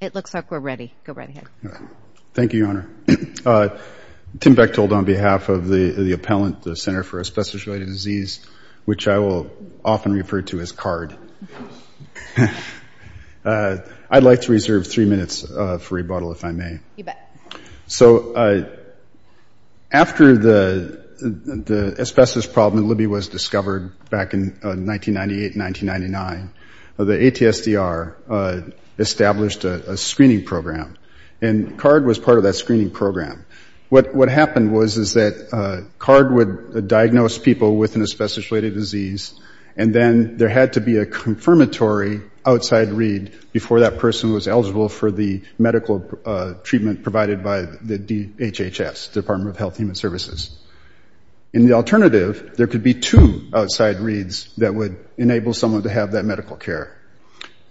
It looks like we're ready. Go right ahead. Thank you, Your Honor. Tim Bechtold on behalf of the appellant, the Center for Asbestos Related Disease, which I will often refer to as CARD. I'd like to reserve three minutes for rebuttal, if I may. So after the asbestos problem in Libya was discovered back in 1998-1999, the ATSDR established a screening program, and CARD was part of that screening program. What happened was is that CARD would diagnose people with an asbestos related disease, and then there had to be a confirmatory outside read before that person was eligible for the medical treatment provided by the DHHS, Department of Health Human Services. In the alternative, there could be two outside reads that would enable someone to have that medical care.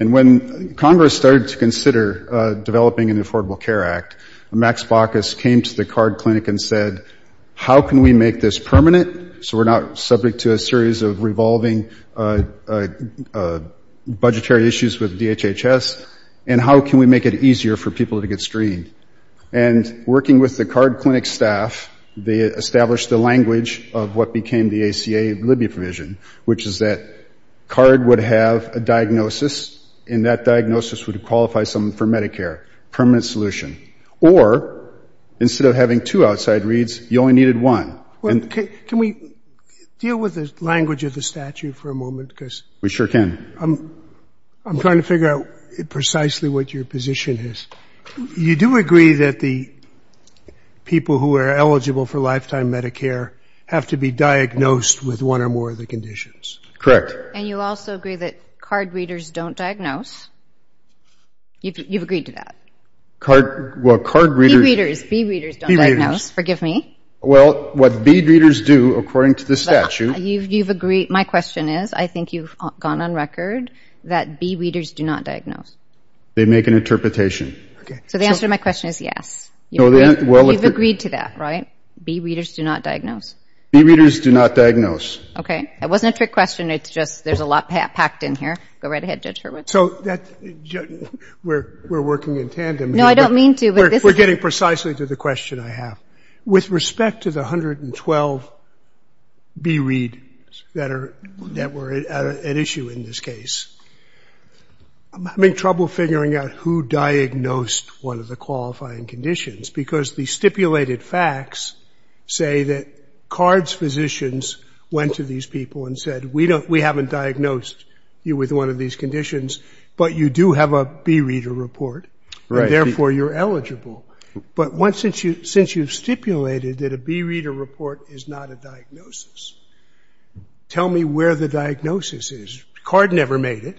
And when Congress started to consider developing an Affordable Care Act, Max Baucus came to the CARD clinic and said, how can we make this permanent so we're not subject to a series of revolving budgetary issues with DHHS, and how can we make it easier for people to get screened? And working with the CARD clinic staff, they established the language of what became the ACA Libya provision, which is that CARD would have a diagnosis, and that diagnosis would qualify someone for Medicare, permanent solution. Or instead of having two outside reads, you only needed one. And can we deal with the language of the statute for a moment? We sure can. I'm trying to figure out precisely what your position is. You do agree that the people who are eligible for lifetime Medicare have to be diagnosed with one or more of the conditions? And you also agree that CARD readers don't diagnose? You've agreed to that? Well, CARD readers... B readers. B readers don't diagnose. Forgive me. Well, what B readers do, according to the statute... You've agreed. My question is, I think you've gone on record that B readers do not diagnose. They make an interpretation. So the answer to my question is yes. You've agreed to that, right? B readers do not diagnose? B readers do not diagnose. Okay. It wasn't a trick question. It's just there's a lot packed in here. Go right ahead, Judge Hurwitz. So we're working in tandem. No, I don't mean to. We're getting precisely to the question I have. With respect to the 112 B readers that were at issue in this case, I'm having trouble figuring out who diagnosed one of the qualifying conditions because the stipulated facts say that CARD's physicians went to these people and said, we haven't diagnosed you with one of these conditions, but you do have a B reader report, and therefore you're eligible. But since you've stipulated that a B reader report is not a diagnosis, tell me where the diagnosis is. CARD never made it,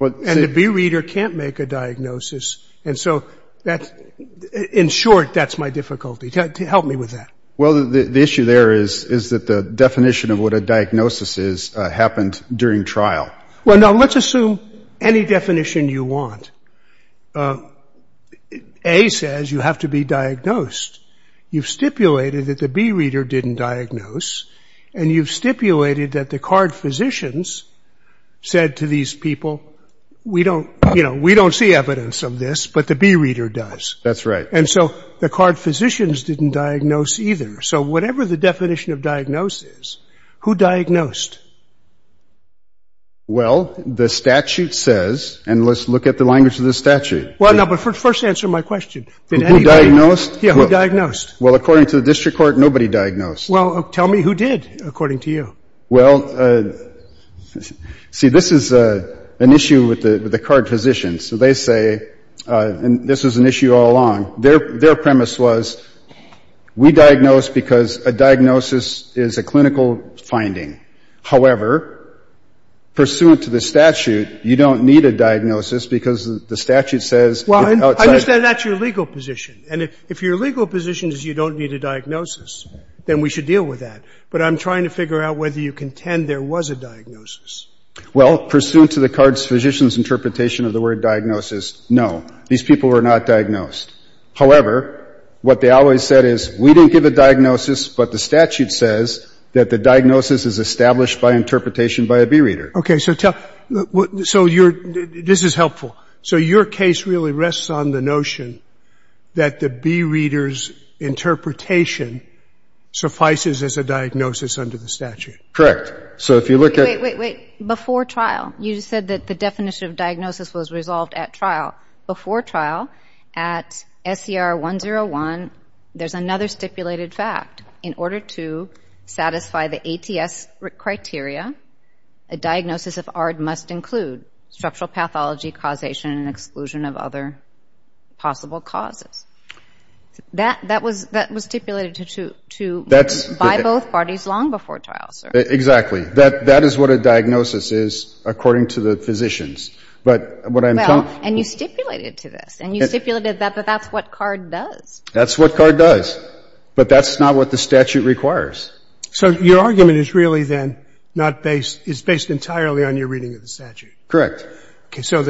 and the B reader can't make a diagnosis. And so in short, that's my difficulty. Help me with that. Well, the issue there is that the definition of what a diagnosis is happened during trial. Well, now let's assume any definition you want. A says you have to be diagnosed. You've stipulated that the B reader didn't diagnose, and you've stipulated that the CARD physicians said to these people, we don't see evidence of this, but the B reader does. That's right. And so the CARD physicians didn't diagnose either. So whatever the definition of diagnosis is, who diagnosed? Well, the statute says, and let's look at the language of the statute. Well, no, but first answer my question. Who diagnosed? Yeah, who diagnosed? Well, according to the district court, nobody diagnosed. Well, tell me who did, according to you. Well, see, this is an issue with the CARD physicians. So they say, and this is an issue all along, their premise was we diagnose because a diagnosis is a clinical finding. However, pursuant to the statute, you don't need a diagnosis because the statute says it's outside. Well, I understand that's your legal position. And if your legal position is you don't need a diagnosis, then we should deal with that. But I'm trying to figure out whether you contend there was a diagnosis. Well, pursuant to the CARD physicians' interpretation of the word diagnosis, no, these people were not diagnosed. However, what they always said is we didn't give a diagnosis, but the statute says that the diagnosis is established by interpretation by a bee reader. Okay, so tell me, so this is helpful. So your case really rests on the notion that the bee reader's interpretation suffices as a diagnosis under the statute. Correct. So if you look at Wait, wait, wait. Before trial, you said that the definition of diagnosis was resolved at trial. Before trial, at SCR 101, there's another stipulated fact. In order to satisfy the ATS criteria, a diagnosis of ARD must include structural pathology, causation, and exclusion of other possible causes. That was stipulated by both parties long before trial, sir. Exactly. That is what a diagnosis is according to the physicians. Well, and you stipulated to this, and you stipulated that that's what CARD does. That's what CARD does, but that's not what the statute requires. So your argument is really then not based, it's based entirely on your reading of the statute. Correct. Okay, so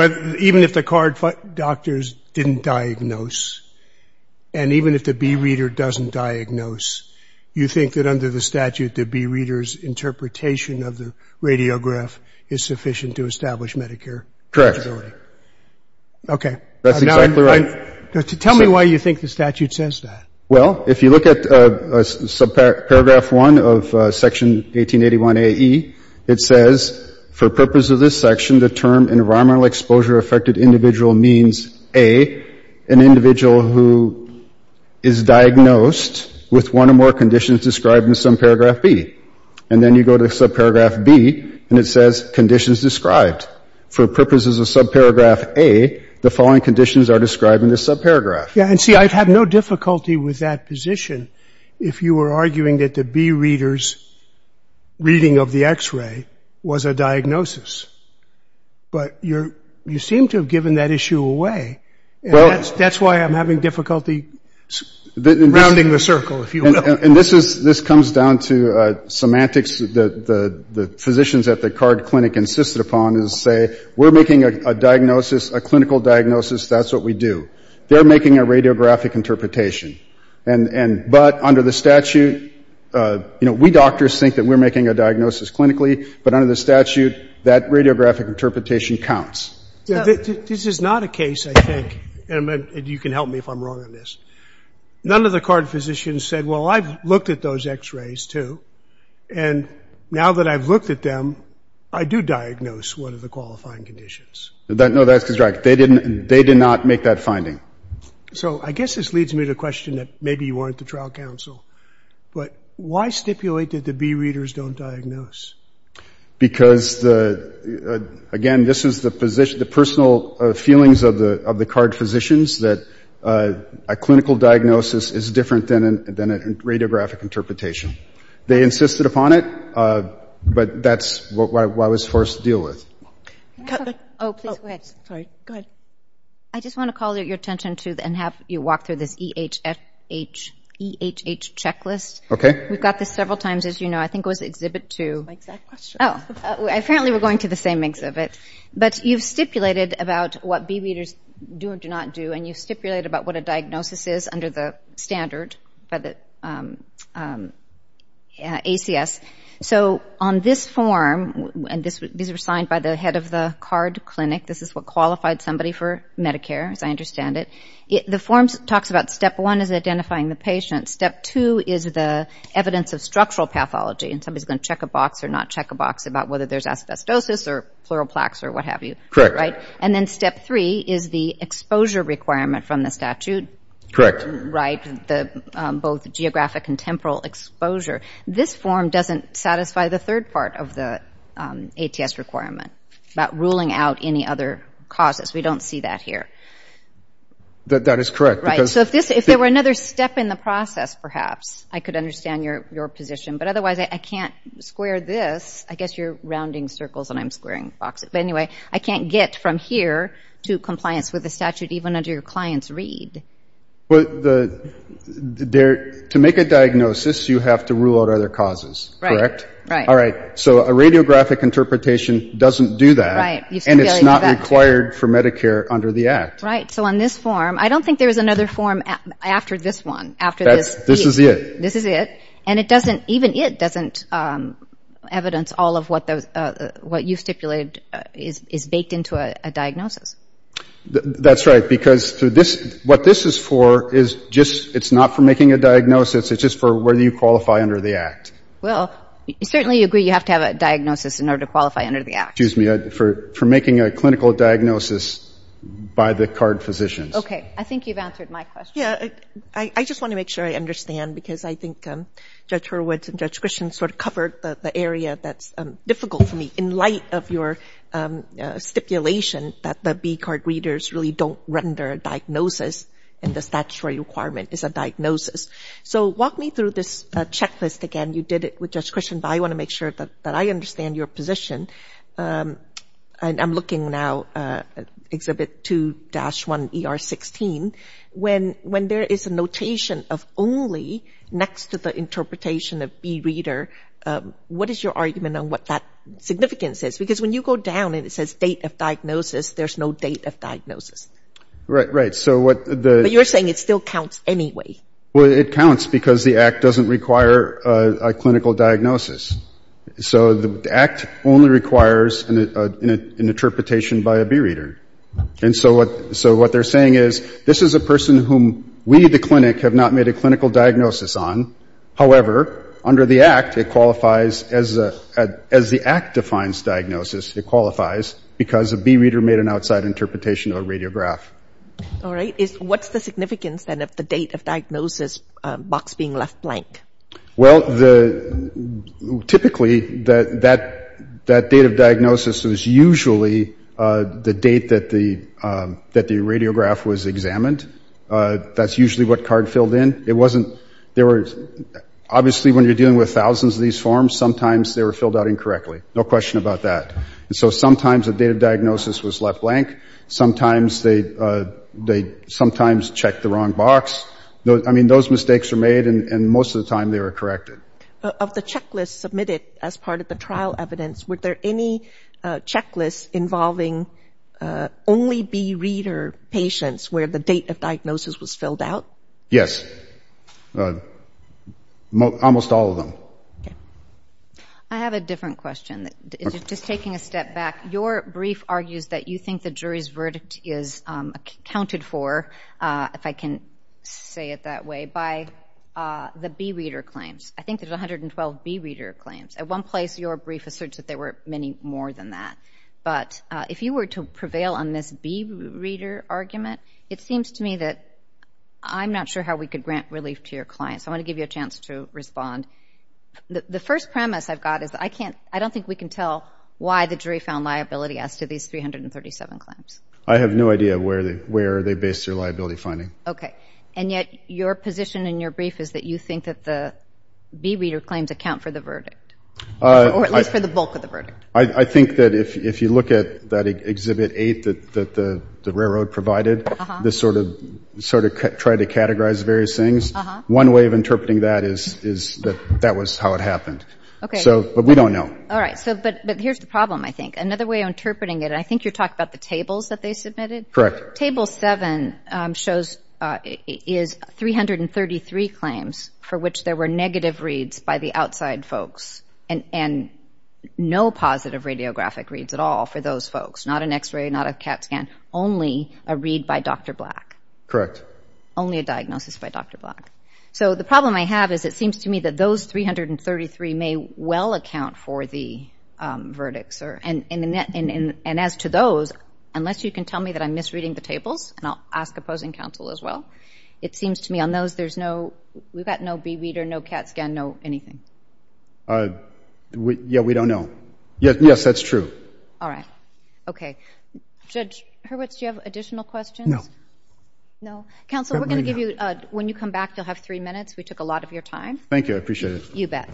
even if the CARD doctors didn't diagnose, and even if the bee reader doesn't diagnose, you think that under the statute, the bee reader's interpretation of the radiograph is sufficient to establish Medicare eligibility? Okay. That's exactly right. Tell me why you think the statute says that. Well, if you look at subparagraph 1 of Section 1881AE, it says, for purpose of this section, the term environmental exposure affected individual means A, an individual who is diagnosed with one or more conditions described in subparagraph B. And then you go to subparagraph B, and it says conditions described. For purposes of subparagraph A, the following conditions are described in this subparagraph. Yeah, and see, I'd have no difficulty with that position if you were arguing that the bee reader's reading of the X-ray was a diagnosis. But you seem to have given that issue away, and that's why I'm having difficulty rounding the circle, if you will. And this comes down to semantics that the physicians at the CARD Clinic insisted upon is to say, we're making a diagnosis, a clinical diagnosis, that's what we do. They're making a radiographic interpretation. But under the statute, you know, we doctors think that we're making a diagnosis clinically, but under the statute, that radiographic interpretation counts. This is not a case, I think, and you can help me if I'm wrong on this. None of the CARD physicians said, well, I've looked at those X-rays too, and now that I've looked at them, I do diagnose one of the qualifying conditions. No, that's correct. They did not make that finding. So I guess this leads me to the question that maybe you weren't the trial counsel, but why stipulate that the B-readers don't diagnose? Because, again, this is the personal feelings of the CARD physicians, that a clinical diagnosis is different than a radiographic interpretation. They insisted upon it, but that's what I was forced to deal with. Oh, please go ahead. Sorry. Go ahead. I just want to call your attention to and have you walk through this EHH checklist. We've got this several times, as you know. I think it was Exhibit 2. My exact question. Oh, apparently we're going to the same exhibit. But you've stipulated about what B-readers do or do not do, and you've stipulated about what a diagnosis is under the standard by the ACS. So on this form, and these were signed by the head of the CARD clinic, this is what qualified somebody for Medicare, as I understand it. The form talks about Step 1 is identifying the patient. Step 2 is the evidence of structural pathology, and somebody's going to check a box or not check a box about whether there's asbestosis or pleural plaques or what have you. Correct. Right? And then Step 3 is the exposure requirement from the statute. Correct. Right, both geographic and temporal exposure. This form doesn't satisfy the third part of the ATS requirement, about ruling out any other causes. We don't see that here. That is correct. Right. So if there were another step in the process, perhaps, I could understand your position. But otherwise, I can't square this. I guess you're rounding circles and I'm squaring boxes. But anyway, I can't get from here to compliance with the statute even under your client's read. To make a diagnosis, you have to rule out other causes. Correct? Right. Right. All right. So a radiographic interpretation doesn't do that. Right. And it's not required for Medicare under the Act. Right. So on this form, I don't think there's another form after this one, after this. This is it. This is it. And it doesn't, even it doesn't evidence all of what you stipulated is baked into a diagnosis. That's right. Because what this is for is just, it's not for making a diagnosis. It's just for whether you qualify under the Act. Well, you certainly agree you have to have a diagnosis in order to qualify under the Act. Excuse me. For making a clinical diagnosis by the card physicians. Okay. I think you've answered my question. Yeah. I just want to make sure I understand because I think Judge Hurwitz and Judge Christian sort of covered the area that's difficult for me in light of your stipulation that the B-card readers really don't render a diagnosis and the statutory requirement is a diagnosis. So walk me through this checklist again. You did it with Judge Christian, but I want to make sure that I understand your position. I'm looking now at Exhibit 2-1ER16. When there is a notation of only next to the interpretation of B-reader, what is your argument on what that significance is? Because when you go down and it says date of diagnosis, there's no date of diagnosis. Right. Right. So what the- But you're saying it still counts anyway. Well, it counts because the Act doesn't require a clinical diagnosis. So the Act only requires an interpretation by a B-reader. And so what they're saying is this is a person whom we, the clinic, have not made a clinical diagnosis on. However, under the Act, it qualifies as the Act defines diagnosis, it qualifies because a B-reader made an outside interpretation of a radiograph. All right. What's the significance, then, of the date of diagnosis box being left blank? Well, typically, that date of diagnosis is usually the date that the radiograph was examined. That's usually what card filled in. It wasn't- There were- Obviously, when you're dealing with thousands of these forms, sometimes they were filled out incorrectly. No question about that. And so sometimes the date of diagnosis was left blank. Sometimes they checked the wrong box. I mean, those mistakes were made, and most of the time they were corrected. Of the checklists submitted as part of the trial evidence, were there any checklists involving only B-reader patients where the date of diagnosis was filled out? Yes. Almost all of them. I have a different question. Just taking a step back, your brief argues that you think the jury's verdict is accounted for, if I can say it that way, by the B-reader claims. I think there's 112 B-reader claims. At one place, your brief asserts that there were many more than that. But if you were to prevail on this B-reader argument, it seems to me that I'm not sure how we could grant relief to your clients. I want to give you a chance to respond. The first premise I've got is that I don't think we can tell why the jury found liability as to these 337 claims. I have no idea where they based their liability finding. Okay. And yet, your position in your brief is that you think that the B-reader claims account for the verdict, or at least for the bulk of the verdict. I think that if you look at that Exhibit 8 that the railroad provided, this sort of tried to categorize various things, one way of interpreting that is that that was how it happened. Okay. But we don't know. All right. But here's the problem, I think. Another way of interpreting it, and I think you're talking about the tables that they submitted? Correct. Table 7 is 333 claims for which there were negative reads by the outside folks and no positive radiographic reads at all for those folks, not an x-ray, not a CAT scan, only a read by Dr. Black. Correct. Only a diagnosis by Dr. Black. So the problem I have is it seems to me that those 333 may well account for the verdicts. And as to those, unless you can tell me that I'm misreading the tables, and I'll ask opposing counsel as well, it seems to me on those there's no, we've got no B-reader, no CAT scan, no anything. Yeah, we don't know. Yes, that's true. All right. Okay. Judge Hurwitz, do you have additional questions? No? Counsel, we're going to give you, when you come back you'll have three minutes. We took a lot of your time. Thank you. I appreciate it. You bet.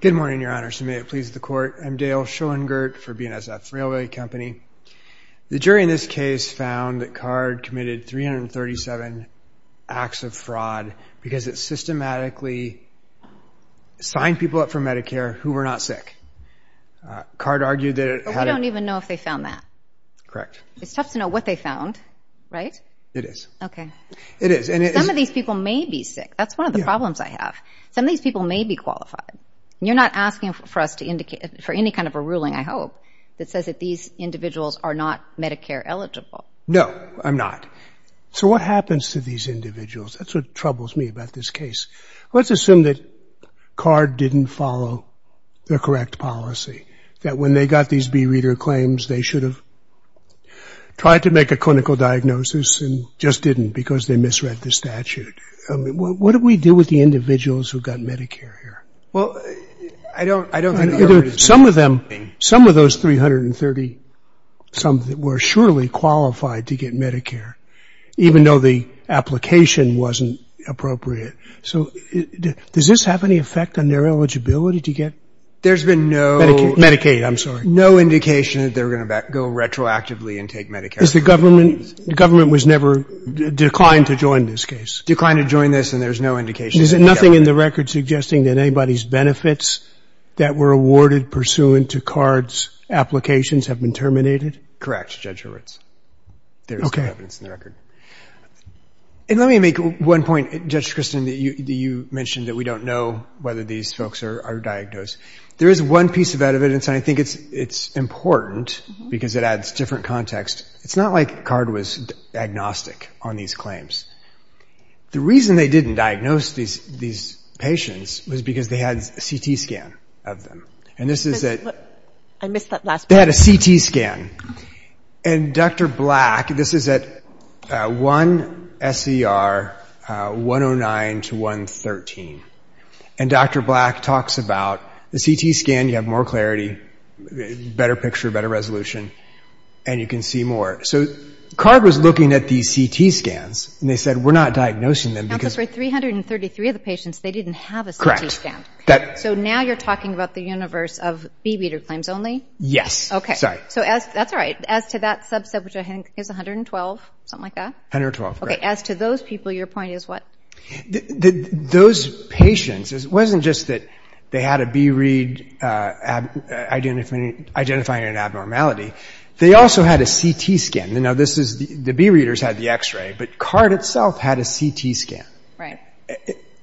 Good morning, Your Honor. So may it please the Court. I'm Dale Schoengert for BNSF Railway Company. The jury in this case found that Card committed 337 acts of fraud because it systematically signed people up for Medicare who were not sick. Card argued that it had... We don't even know if they found that. Correct. It's tough to know what they found, right? It is. Okay. It is. Some of these people may be sick. That's one of the problems I have. Some of these people may be qualified. You're not asking for us to indicate, for any kind of a ruling, I hope, that says that these individuals are not Medicare eligible. No, I'm not. So what happens to these individuals? That's what troubles me about this case. Let's assume that Card didn't follow the correct policy, that when they got these B Reader claims, they should have tried to make a clinical diagnosis and just didn't because they misread the statute. What do we do with the individuals who got Medicare here? Well, I don't... Some of them... Some of those 330-some were surely qualified to get Medicare, even though the application wasn't appropriate. So does this have any effect on their eligibility to get... There's been no... Medicaid, I'm sorry. ...no indication that they're going to go retroactively and take Medicare. The government was never... declined to join this case. Declined to join this, and there's no indication... Is there nothing in the record suggesting that anybody's benefits that were awarded pursuant to Card's applications have been terminated? Correct, Judge Horowitz. There is no evidence in the record. And let me make one point, Judge Christin, that you mentioned that we don't know whether these folks are diagnosed. There is one piece of evidence, and I think it's important, because it adds different context. It's not like Card was agnostic on these claims. The reason they didn't diagnose these patients was because they had a CT scan of them. And this is at... I missed that last part. They had a CT scan. And Dr. Black... This is at 1 SCR 109 to 113. And Dr. Black talks about the CT scan, you have more clarity, better picture, better resolution, and you can see more. So Card was looking at these CT scans, and they said, we're not diagnosing them because... Counsel, for 333 of the patients, they didn't have a CT scan. So now you're talking about the universe of Beebeater claims only? Yes. Sorry. That's all right. As to that subset, which I think is 112, something like that? 112, correct. As to those people, your point is what? Those patients, it wasn't just that they had a Beebeater identifying an abnormality. They also had a CT scan. The Beebeaters had the X-ray, but Card itself had a CT scan. Right.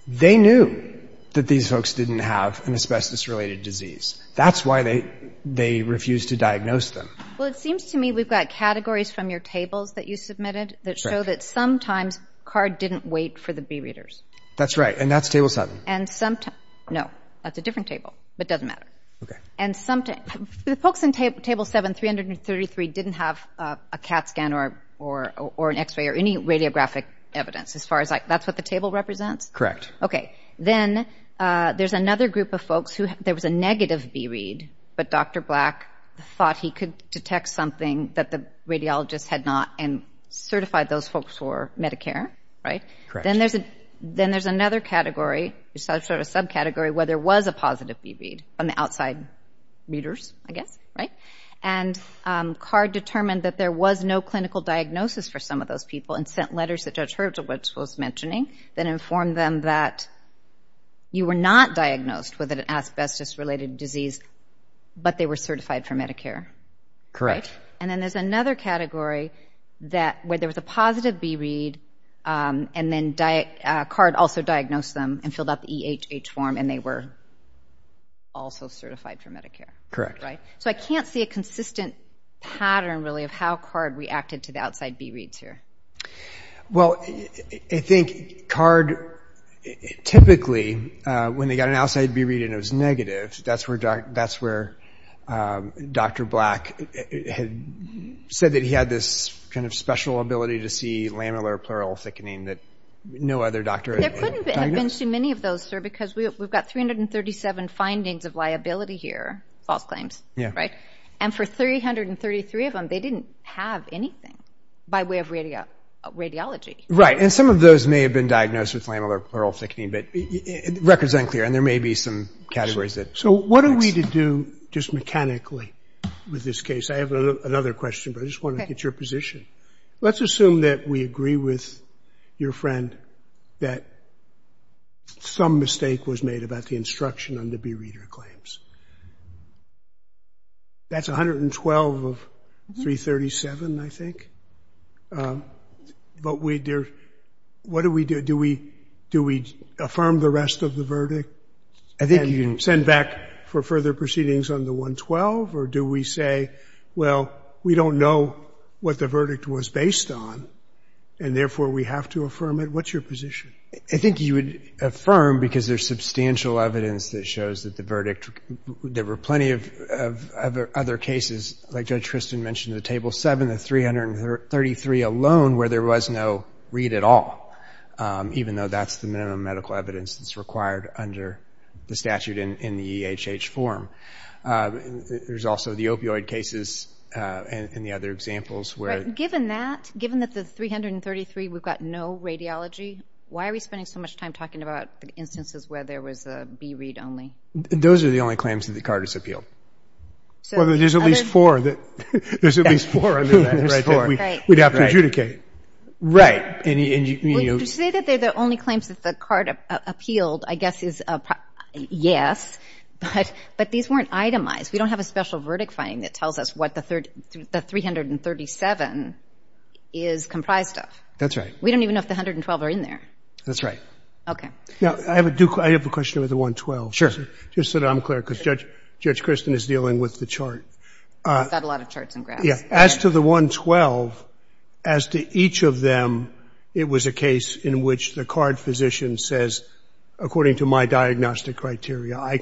They knew that these folks didn't have an asbestos-related disease. That's why they refused to diagnose them. Well, it seems to me we've got categories from your tables that you submitted that show that sometimes Card didn't wait for the Beebeaters. That's right, and that's Table 7. No, that's a different table, but it doesn't matter. The folks in Table 7, 333, didn't have a CAT scan or an X-ray or any radiographic evidence. That's what the table represents? Correct. Okay. Then there's another group of folks who there was a negative bee read, but Dr. Black thought he could detect something that the radiologist had not and certified those folks for Medicare. Correct. Then there's another category, sort of subcategory, where there was a positive bee read from the outside readers, I guess. Right? And Card determined that there was no clinical diagnosis for some of those people and sent letters that Judge Hurwitz was mentioning that informed them that you were not diagnosed with an asbestos-related disease, but they were certified for Medicare. And then there's another category where there was a positive bee read and then Card also diagnosed them and filled out the EHH form and they were also certified for Medicare. Correct. So I can't see a consistent pattern really of how Card reacted to the outside bee reads here. Well, I think Card typically, when they got an outside bee read and it was negative, that's where Dr. Black had said that he had this kind of special ability to see lamellar pleural thickening that no other doctor had diagnosed. There couldn't have been too many of those, sir, because we've got 337 findings of liability here, false claims, right? And for 333 of them, they didn't have anything by way of radiology. Right. And some of those may have been diagnosed with lamellar pleural thickening, but the record's unclear and there may be some categories that... So what are we to do just mechanically with this case? I have another question, but I just want to get your position. Let's assume that we agree with your friend that some mistake was made about the instruction on the bee reader claims. That's 112 of 337, I think. But what do we do? Do we affirm the rest of the verdict? I think you... And send back for further proceedings on the 112? Or do we say, well, we don't know what the verdict was based on and therefore we have to affirm it? What's your position? I think you would affirm because there's substantial evidence that shows that the verdict... There were plenty of other cases, like Judge Tristan mentioned, the Table 7, the 333 alone, where there was no read at all. Even though that's the minimum medical evidence that's required under the statute in the EHH form. There's also the opioid cases and the other examples where... Given that, given that the 333, we've got no radiology, why are we spending so much time talking about instances where there was a bee read only? Those are the only claims that the Carter's appealed. Well, there's at least four that... There's at least four under that. We'd have to adjudicate. Right. And you... To say that they're the only claims that the Carter appealed, I guess is a... Yes, but these weren't itemized. We don't have a special verdict finding that tells us what the 337 is comprised of. That's right. We don't even know if the 112 are in there. That's right. Okay. I have a question about the 112. Sure. Just so that I'm clear because Judge Tristan is dealing with the chart. He's got a lot of charts and graphs. As to the 112, as to each of them, it was a case in which the card physician says, according to my diagnostic criteria, I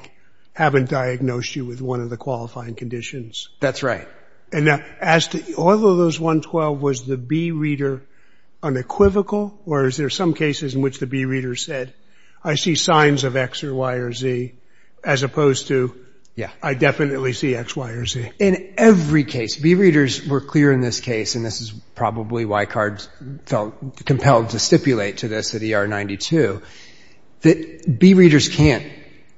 haven't diagnosed you with one of the qualifying conditions. That's right. And as to... All of those 112, was the bee reader unequivocal? Or is there some cases in which the bee reader said, I see signs of X or Y or Z, as opposed to, I definitely see X, Y, or Z? In every case, bee readers were clear in this case and this is probably why Cards felt compelled to stipulate to this at ER 92, that bee readers can't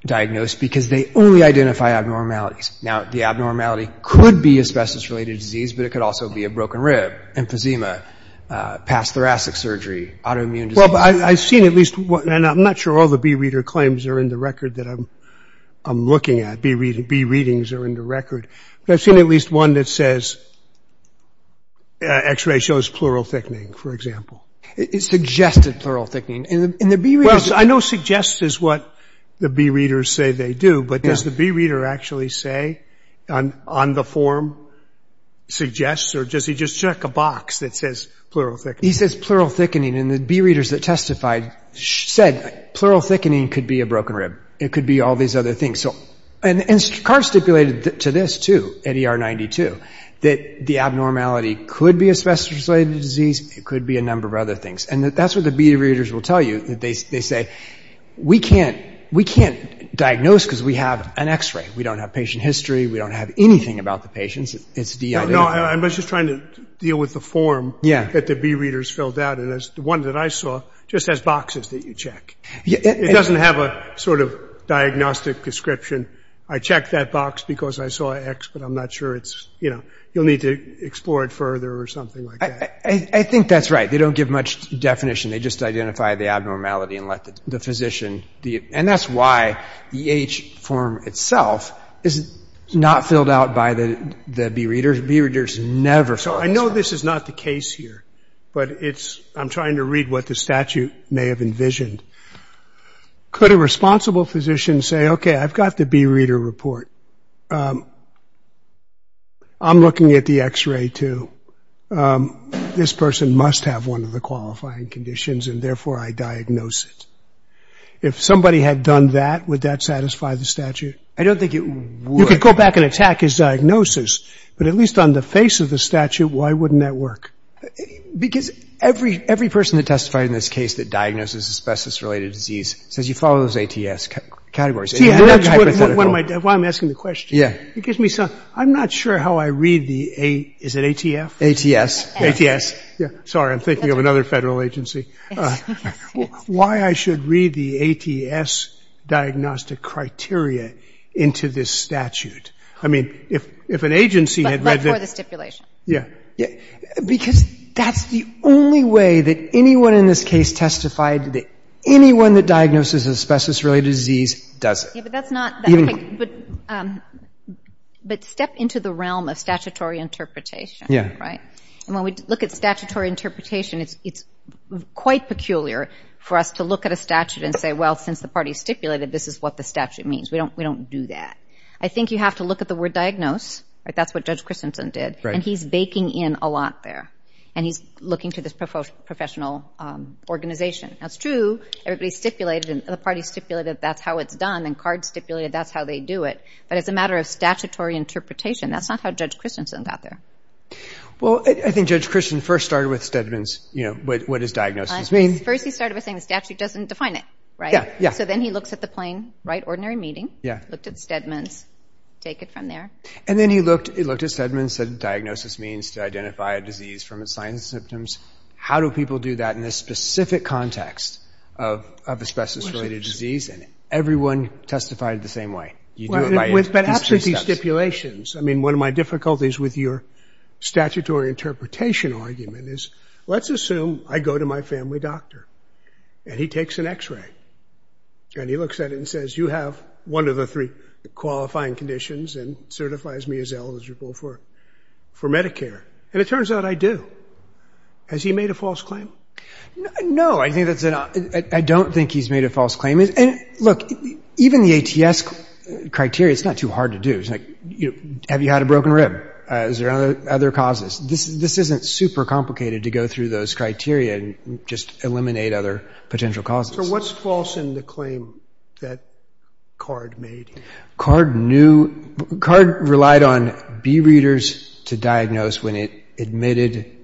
diagnose because they only identify abnormalities. Now, the abnormality could be asbestos-related disease, but it could also be a broken rib, emphysema, past thoracic surgery, autoimmune disease. Well, I've seen at least one, and I'm not sure all the bee reader claims are in the record that I'm looking at. Bee readings are in the record. But I've seen at least one that says, X-ray shows pleural thickening, for example. It suggested pleural thickening. I know suggest is what the bee readers say they do, but does the bee reader actually say on the form suggest, or does he just check a box that says pleural thickening? He says pleural thickening and the bee readers that testified said pleural thickening could be a broken rib. It could be all these other things. And Cards stipulated to this, too, at ER 92, that the abnormality could be a specific disease. It could be a number of other things. And that's what the bee readers will tell you. They say, we can't diagnose because we have an X-ray. We don't have patient history. We don't have anything about the patients. It's the idea. No, I was just trying to deal with the form that the bee readers filled out. And the one that I saw just has boxes that you check. It doesn't have a sort of diagnostic description. I checked that box because I saw an X, but I'm not sure it's, you'll need to explore it further or something like that. I think that's right. They don't give much definition. They just identify the abnormality and let the physician. And that's why the H form itself is not filled out by the bee readers. Bee readers never fill out. So I know this is not the case here, but it's, I'm trying to read what the statute may have envisioned. Could a responsible physician say, okay, I've got the bee reader report. I'm looking at the X-ray too. This person must have one of the qualifying conditions and therefore I diagnose it. If somebody had done that, would that satisfy the statute? I don't think it would. You could go back and attack his diagnosis, but at least on the face of the statute, why wouldn't that work? Because every person that testified in this case that diagnoses asbestos-related disease says you follow those ATS categories. See, that's why I'm asking the question. It gives me some, I'm not sure how I read the A, is it ATF? ATS. ATS. Sorry, I'm thinking of another federal agency. Why I should read the ATS diagnostic criteria into this statute. I mean, if an agency had read that. But for the stipulation. Yeah. Because that's the only way that anyone in this case testified that anyone that diagnoses asbestos-related disease does it. Yeah, but that's not, but step into the realm of statutory interpretation. Right? And when we look at statutory interpretation, it's quite peculiar for us to look at a statute and say, well, since the party stipulated, this is what the statute means. We don't do that. I think you have to look at the word diagnose. That's what Judge Christensen did. Right. And he's baking in a lot there. And he's looking to this professional organization. That's true. Everybody stipulated and the party stipulated that's how it's done and card stipulated that's how they do it. But as a matter of statutory interpretation, that's not how Judge Christensen got there. Well, I think Judge Christensen first started with Stedman's, you know, what does diagnosis mean? First he started with saying the statute doesn't define it. Right? Yeah. So then he looks at the plain, right, ordinary meaning. Yeah. Looked at Stedman's. Take it from there. And then he looked at Stedman's and said diagnosis means to identify a disease from its signs and symptoms. How do people do that in this specific context of asbestos-related disease? And everyone testified the same way. You do it by these three steps. But after these stipulations, I mean, one of my difficulties with your statutory interpretation argument is let's assume I go to my family doctor and he takes an x-ray and he looks at it and says, you have one of the three qualifying conditions and certifies me as eligible for Medicare. And it turns out I do. Has he made a false claim? I don't think he's made a false claim. And look, even the ATS criteria, it's not too hard to do. It's like, have you had a broken rib? Is there other causes? This isn't super complicated to go through those criteria and just eliminate other potential causes. So what's false in the claim that Card made? Card knew, Card relied on B-readers to diagnose when it admitted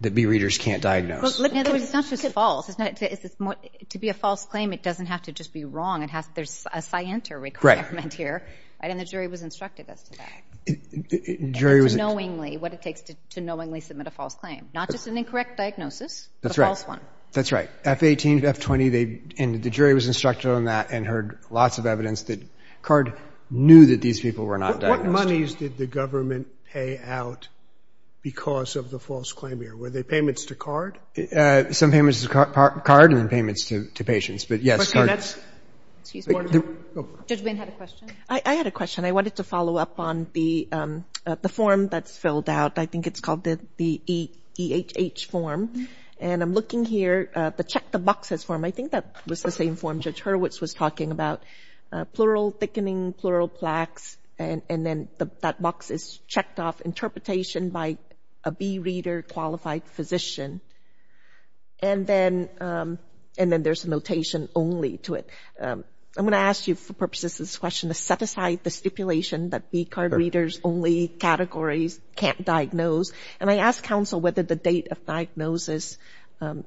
that B-readers can't diagnose. In other words, it's not just false. To be a false claim, it doesn't have to just be wrong. There's a scienter requirement here. And the jury was instructed us to knowingly, what it takes to knowingly submit a false claim. Not just an incorrect diagnosis, a false one. That's right. F-18, F-20, and the jury was instructed on that and heard lots of evidence that Card knew that these people were not diagnosed. What monies did the government pay out because of the false claim here? Were they payments to Card? Some payments to Card and payments to patients, but yes, Card. Excuse me. Judge Wynn had a question. I had a question. I wanted to follow up on the form that's filled out. I think it's called the E-H-H form. And I'm looking here at the check the boxes form. I think that was the same form Judge Hurwitz was talking about. Plural thickening, plural plaques, and then that box is checked off interpretation by a B-reader qualified physician. And then there's a notation only to it. I'm going to ask you for purposes of this question to set aside the stipulation that B-card readers only categories can't diagnose. And I ask counsel whether the date of diagnosis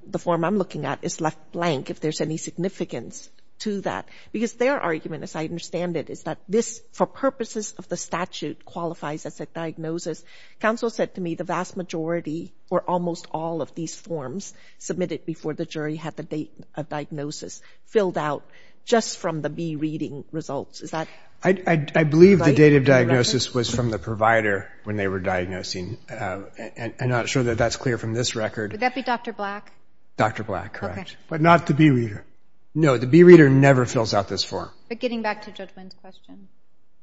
the form I'm looking at is left blank if there's any significance to that. Because their argument as I understand it is that this for purposes of the statute qualifies as a diagnosis. Counsel said to me the vast majority or almost all of these forms submitted before the jury had the date of diagnosis filled out just from the B-reading results. Is that right? I believe the date of diagnosis was from the provider when they were diagnosing. I'm not sure that that's clear from this record. Would that be Dr. Black? Dr. Black, correct. But not the B-reader. No, the B-reader never fills out this form. But getting back to Judge Wynn's question.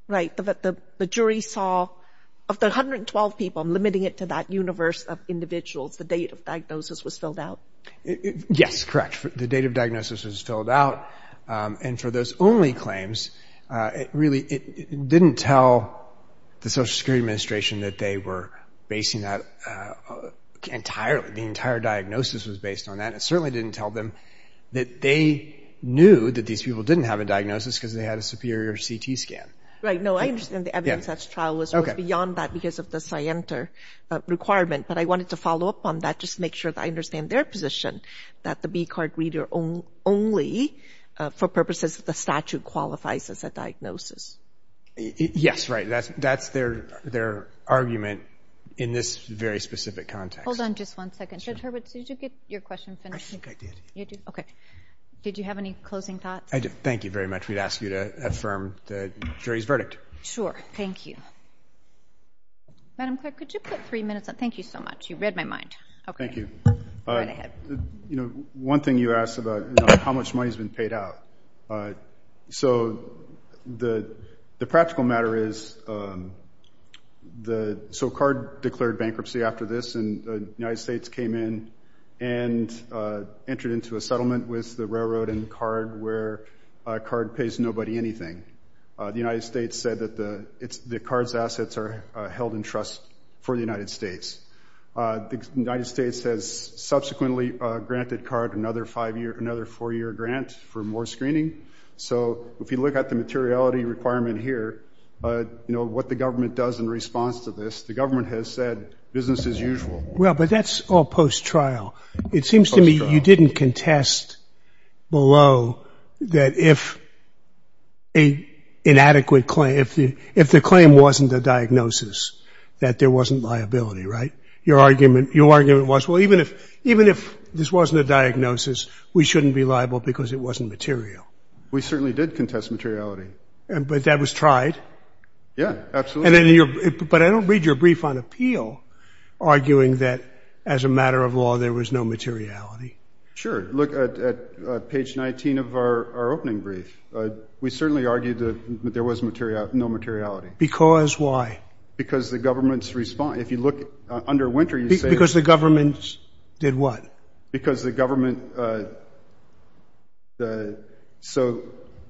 Right. The jury saw of the 112 people limiting it to that universe of individuals the date of diagnosis was filled out. Yes, correct. The date of diagnosis was filled out and for those only claims it really didn't tell the Social Security Administration that they were basing that entirely the entire diagnosis was based on that. It certainly didn't tell them that they knew that these people didn't have a diagnosis because they had a superior CT scan. No, I understand the evidence test trial was beyond that because of the scienter requirement but I wanted to follow up on that just to make sure that I understand their position that the B-card reader only for purposes of the statute qualifies as a diagnosis. Yes, right. That's their argument in this very specific context. Hold on just one second. Mr. Hurwitz, did you get your question finished? I think I did. Okay. Did you have any closing thoughts? Thank you very much. We'd ask you to affirm the jury's verdict. Sure. Thank you. Madam Clerk, could you put three minutes on? Thank you so much. You read my mind. Thank you. Go right ahead. One thing you asked about how much money has been paid out. The practical matter is SOCARD declared bankruptcy after this and the United States came in and entered into a settlement with the railroad and CARD where CARD pays nobody anything. The United States said that the CARD's assets are held in trust for the United States. The United States has subsequently granted CARD another four-year grant for more screening. So, if you look at the materiality requirement here, what the government does in response to this, the government has said business as usual. but that's all post-trial. It seems to me you didn't contest below that if a inadequate claim if the claim wasn't a diagnosis that there wasn't liability, right? Your argument was, even if this wasn't a diagnosis, we shouldn't be liable because it wasn't material. We certainly did contest materiality. But that was tried? Yeah, absolutely. But I don't read your brief on appeal arguing that as a matter of law there was no materiality. Sure, look at page 19 of our opening brief. We certainly argued that there was no materiality. Because why? Because the government's response, if you look under winter you say? Because the government did what? Because the government, so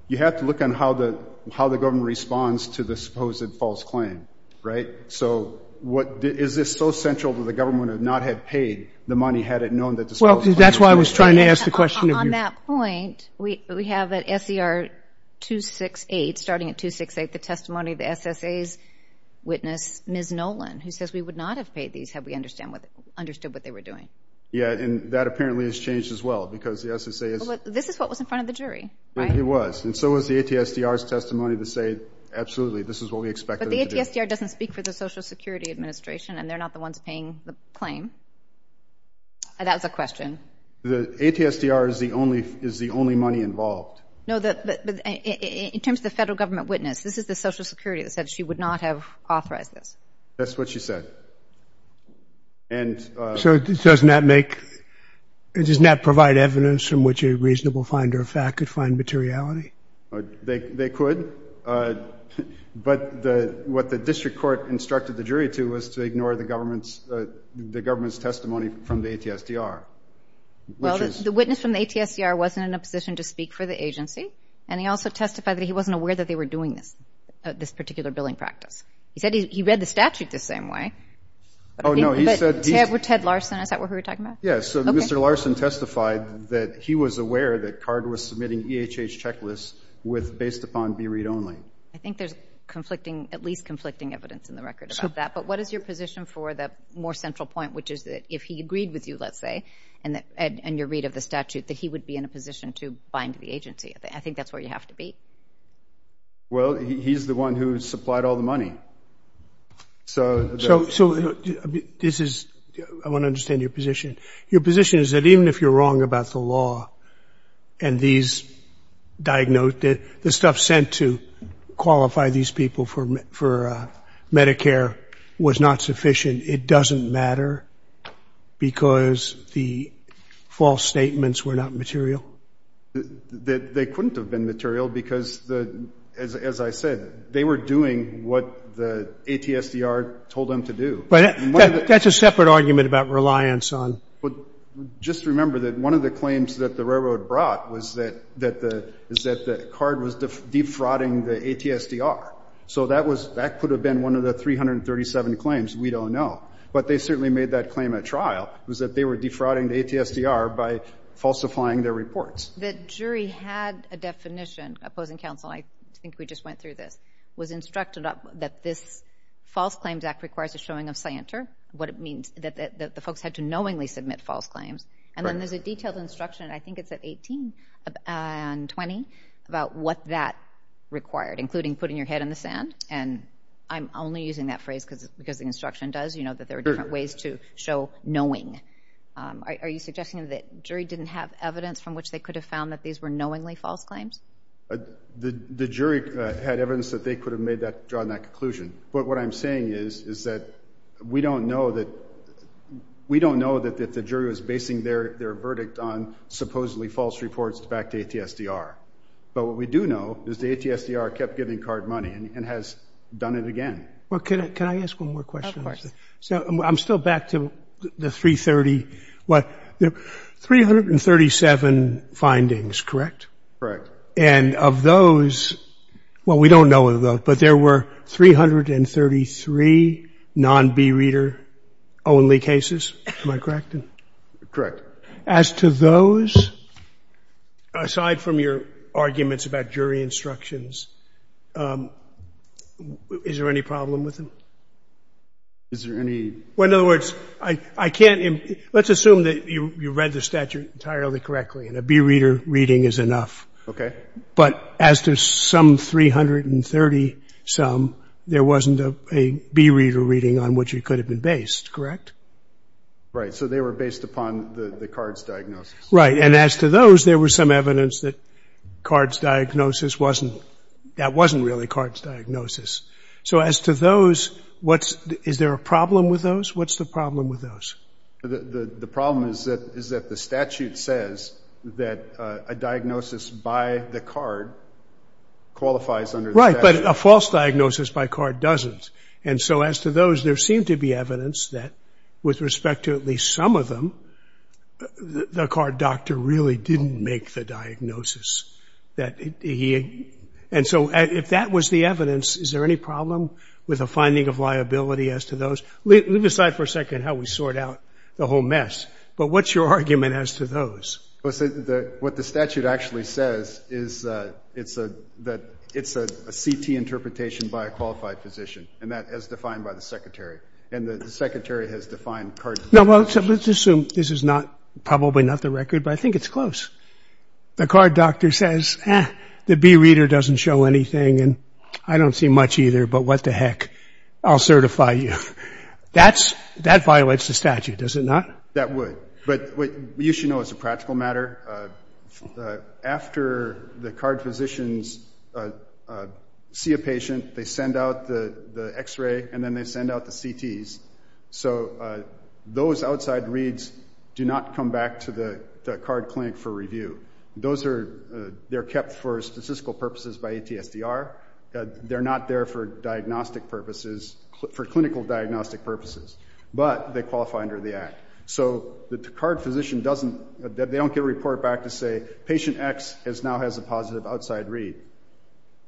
you have to look on how the government responds to the supposed false claim, right? So is this so central that the government would not have paid the money had it known that the claim wasn't true? Yeah, and that apparently has changed as well because the SSA is... This is what was in front of the right? It was, and so was the ATSDR's testimony to say absolutely this is what we expected to do. But the ATSDR doesn't speak for the Social Security Administration and they're not the ones paying the claim. That was a The ATSDR is the only money involved. No, but in terms of the federal government witness, this is the Social Security that said she would not have authorized this. That's what she said. So doesn't that make, doesn't that provide evidence from which a reasonable finder of fact could find materiality? They could, but what the district court instructed the jury to was to ignore the government's testimony from the ATSDR. The witness from the ATSDR wasn't in a position to speak for the agency and he also testified that he wasn't aware that they were doing this particular billing practice. He said he read the statute the same way. Oh no, he said, Ted Larson, is that who you're talking about? Yeah, so Mr. Larson testified that he was aware that CARD was submitting EHH checklists based upon beread only. I think there's at least conflicting evidence in the record about that, but what is your position for the more central point, which is that if he agreed with you, let's say, and your read of the statute, that he would be in a position to bind the agency? I think that's where you have to be. Well, he's the one who supplied all the money. So this is, I want to understand your position. Your position the false statements were not material? They couldn't have been material because, as I said, they were doing what the ATSDR told them to do. That's a separate argument about reliance on the just remember that one of the claims that the railroad brought was that the card was defrauding the ATSDR. So that could have been one of the 337 claims. We don't know. But they certainly made that claim at They were defrauding the ATSDR by falsifying their reports. The jury had a opposing counsel. I think we just went through this. It was instructed that this false claims act requires a showing of scienter. What it means that the folks had to knowingly submit false claims. There's a detailed instruction at 18 and 20 about what that required, including putting your head in the sand. I'm only using that phrase because the instruction does. There are different ways to show your There are 337 findings, correct? Of those, we don't know of those, but there were 333 non-B reader only cases. Am I correct? As to those, aside from your arguments about jury instructions, is there any problem with them? In other words, let's assume you read the statute entirely correctly. A B reader reading is enough. But as to some 330 some, there wasn't a B reader reading on what you could have been based. As to those, there was some evidence that that wasn't really CARD's diagnosis. As to those, is there a problem with those? What's the problem with those? The problem is that the statute says that a diagnosis by the CARD qualifies under the Right, but a false diagnosis by CARD doesn't. As to those, there seemed to be evidence that with respect to at least some of them, the CARD doctor really didn't make the diagnosis. And so, if that was the evidence, is there any problem with a finding of liability as to those? Leave aside for a second how we sort out the whole mess, but what's your argument as to those? Well, what the statute actually says is that it's a CT interpretation by a physician, and that as defined by the And the has defined CARD diagnosis. Let's assume this is probably not the record, but I think it's close. The CARD doctor says, eh, the B reader doesn't show anything, and I don't see much either, but what the heck, I'll certify you. That violates the statute, does it not? That would, but you should know as a practical matter, after the CARD physicians see a they send out the and then they send out the CTs. So those outside reads do not come back to the CARD clinic for review. Those are they're kept for statistical purposes by ATSDR. They're not there for diagnostic purposes, for clinical diagnostic purposes, but they qualify under the act. So the CARD physician doesn't, they don't get a report back to say patient X now has a positive outside read.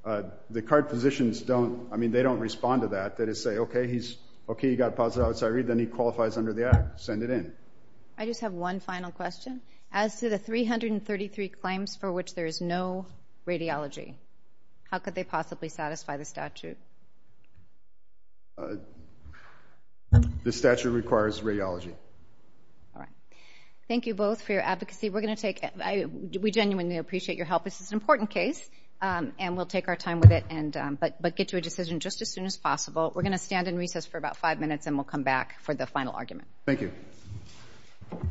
The CARD physicians don't, I mean they don't respond to that. They just say okay he's okay he got positive outside read then he qualifies under the act. Send it in. I just have one final question. As to the 333 claims for which there is no radiology, how could they possibly satisfy the The statute requires radiology. Thank you both for your advocacy. We're going to take, we genuinely appreciate your help. This is an important case and we'll take our time with it but get to a decision just as soon as We're going to stand in recess for about five minutes and we'll come back for the final argument. Thank you.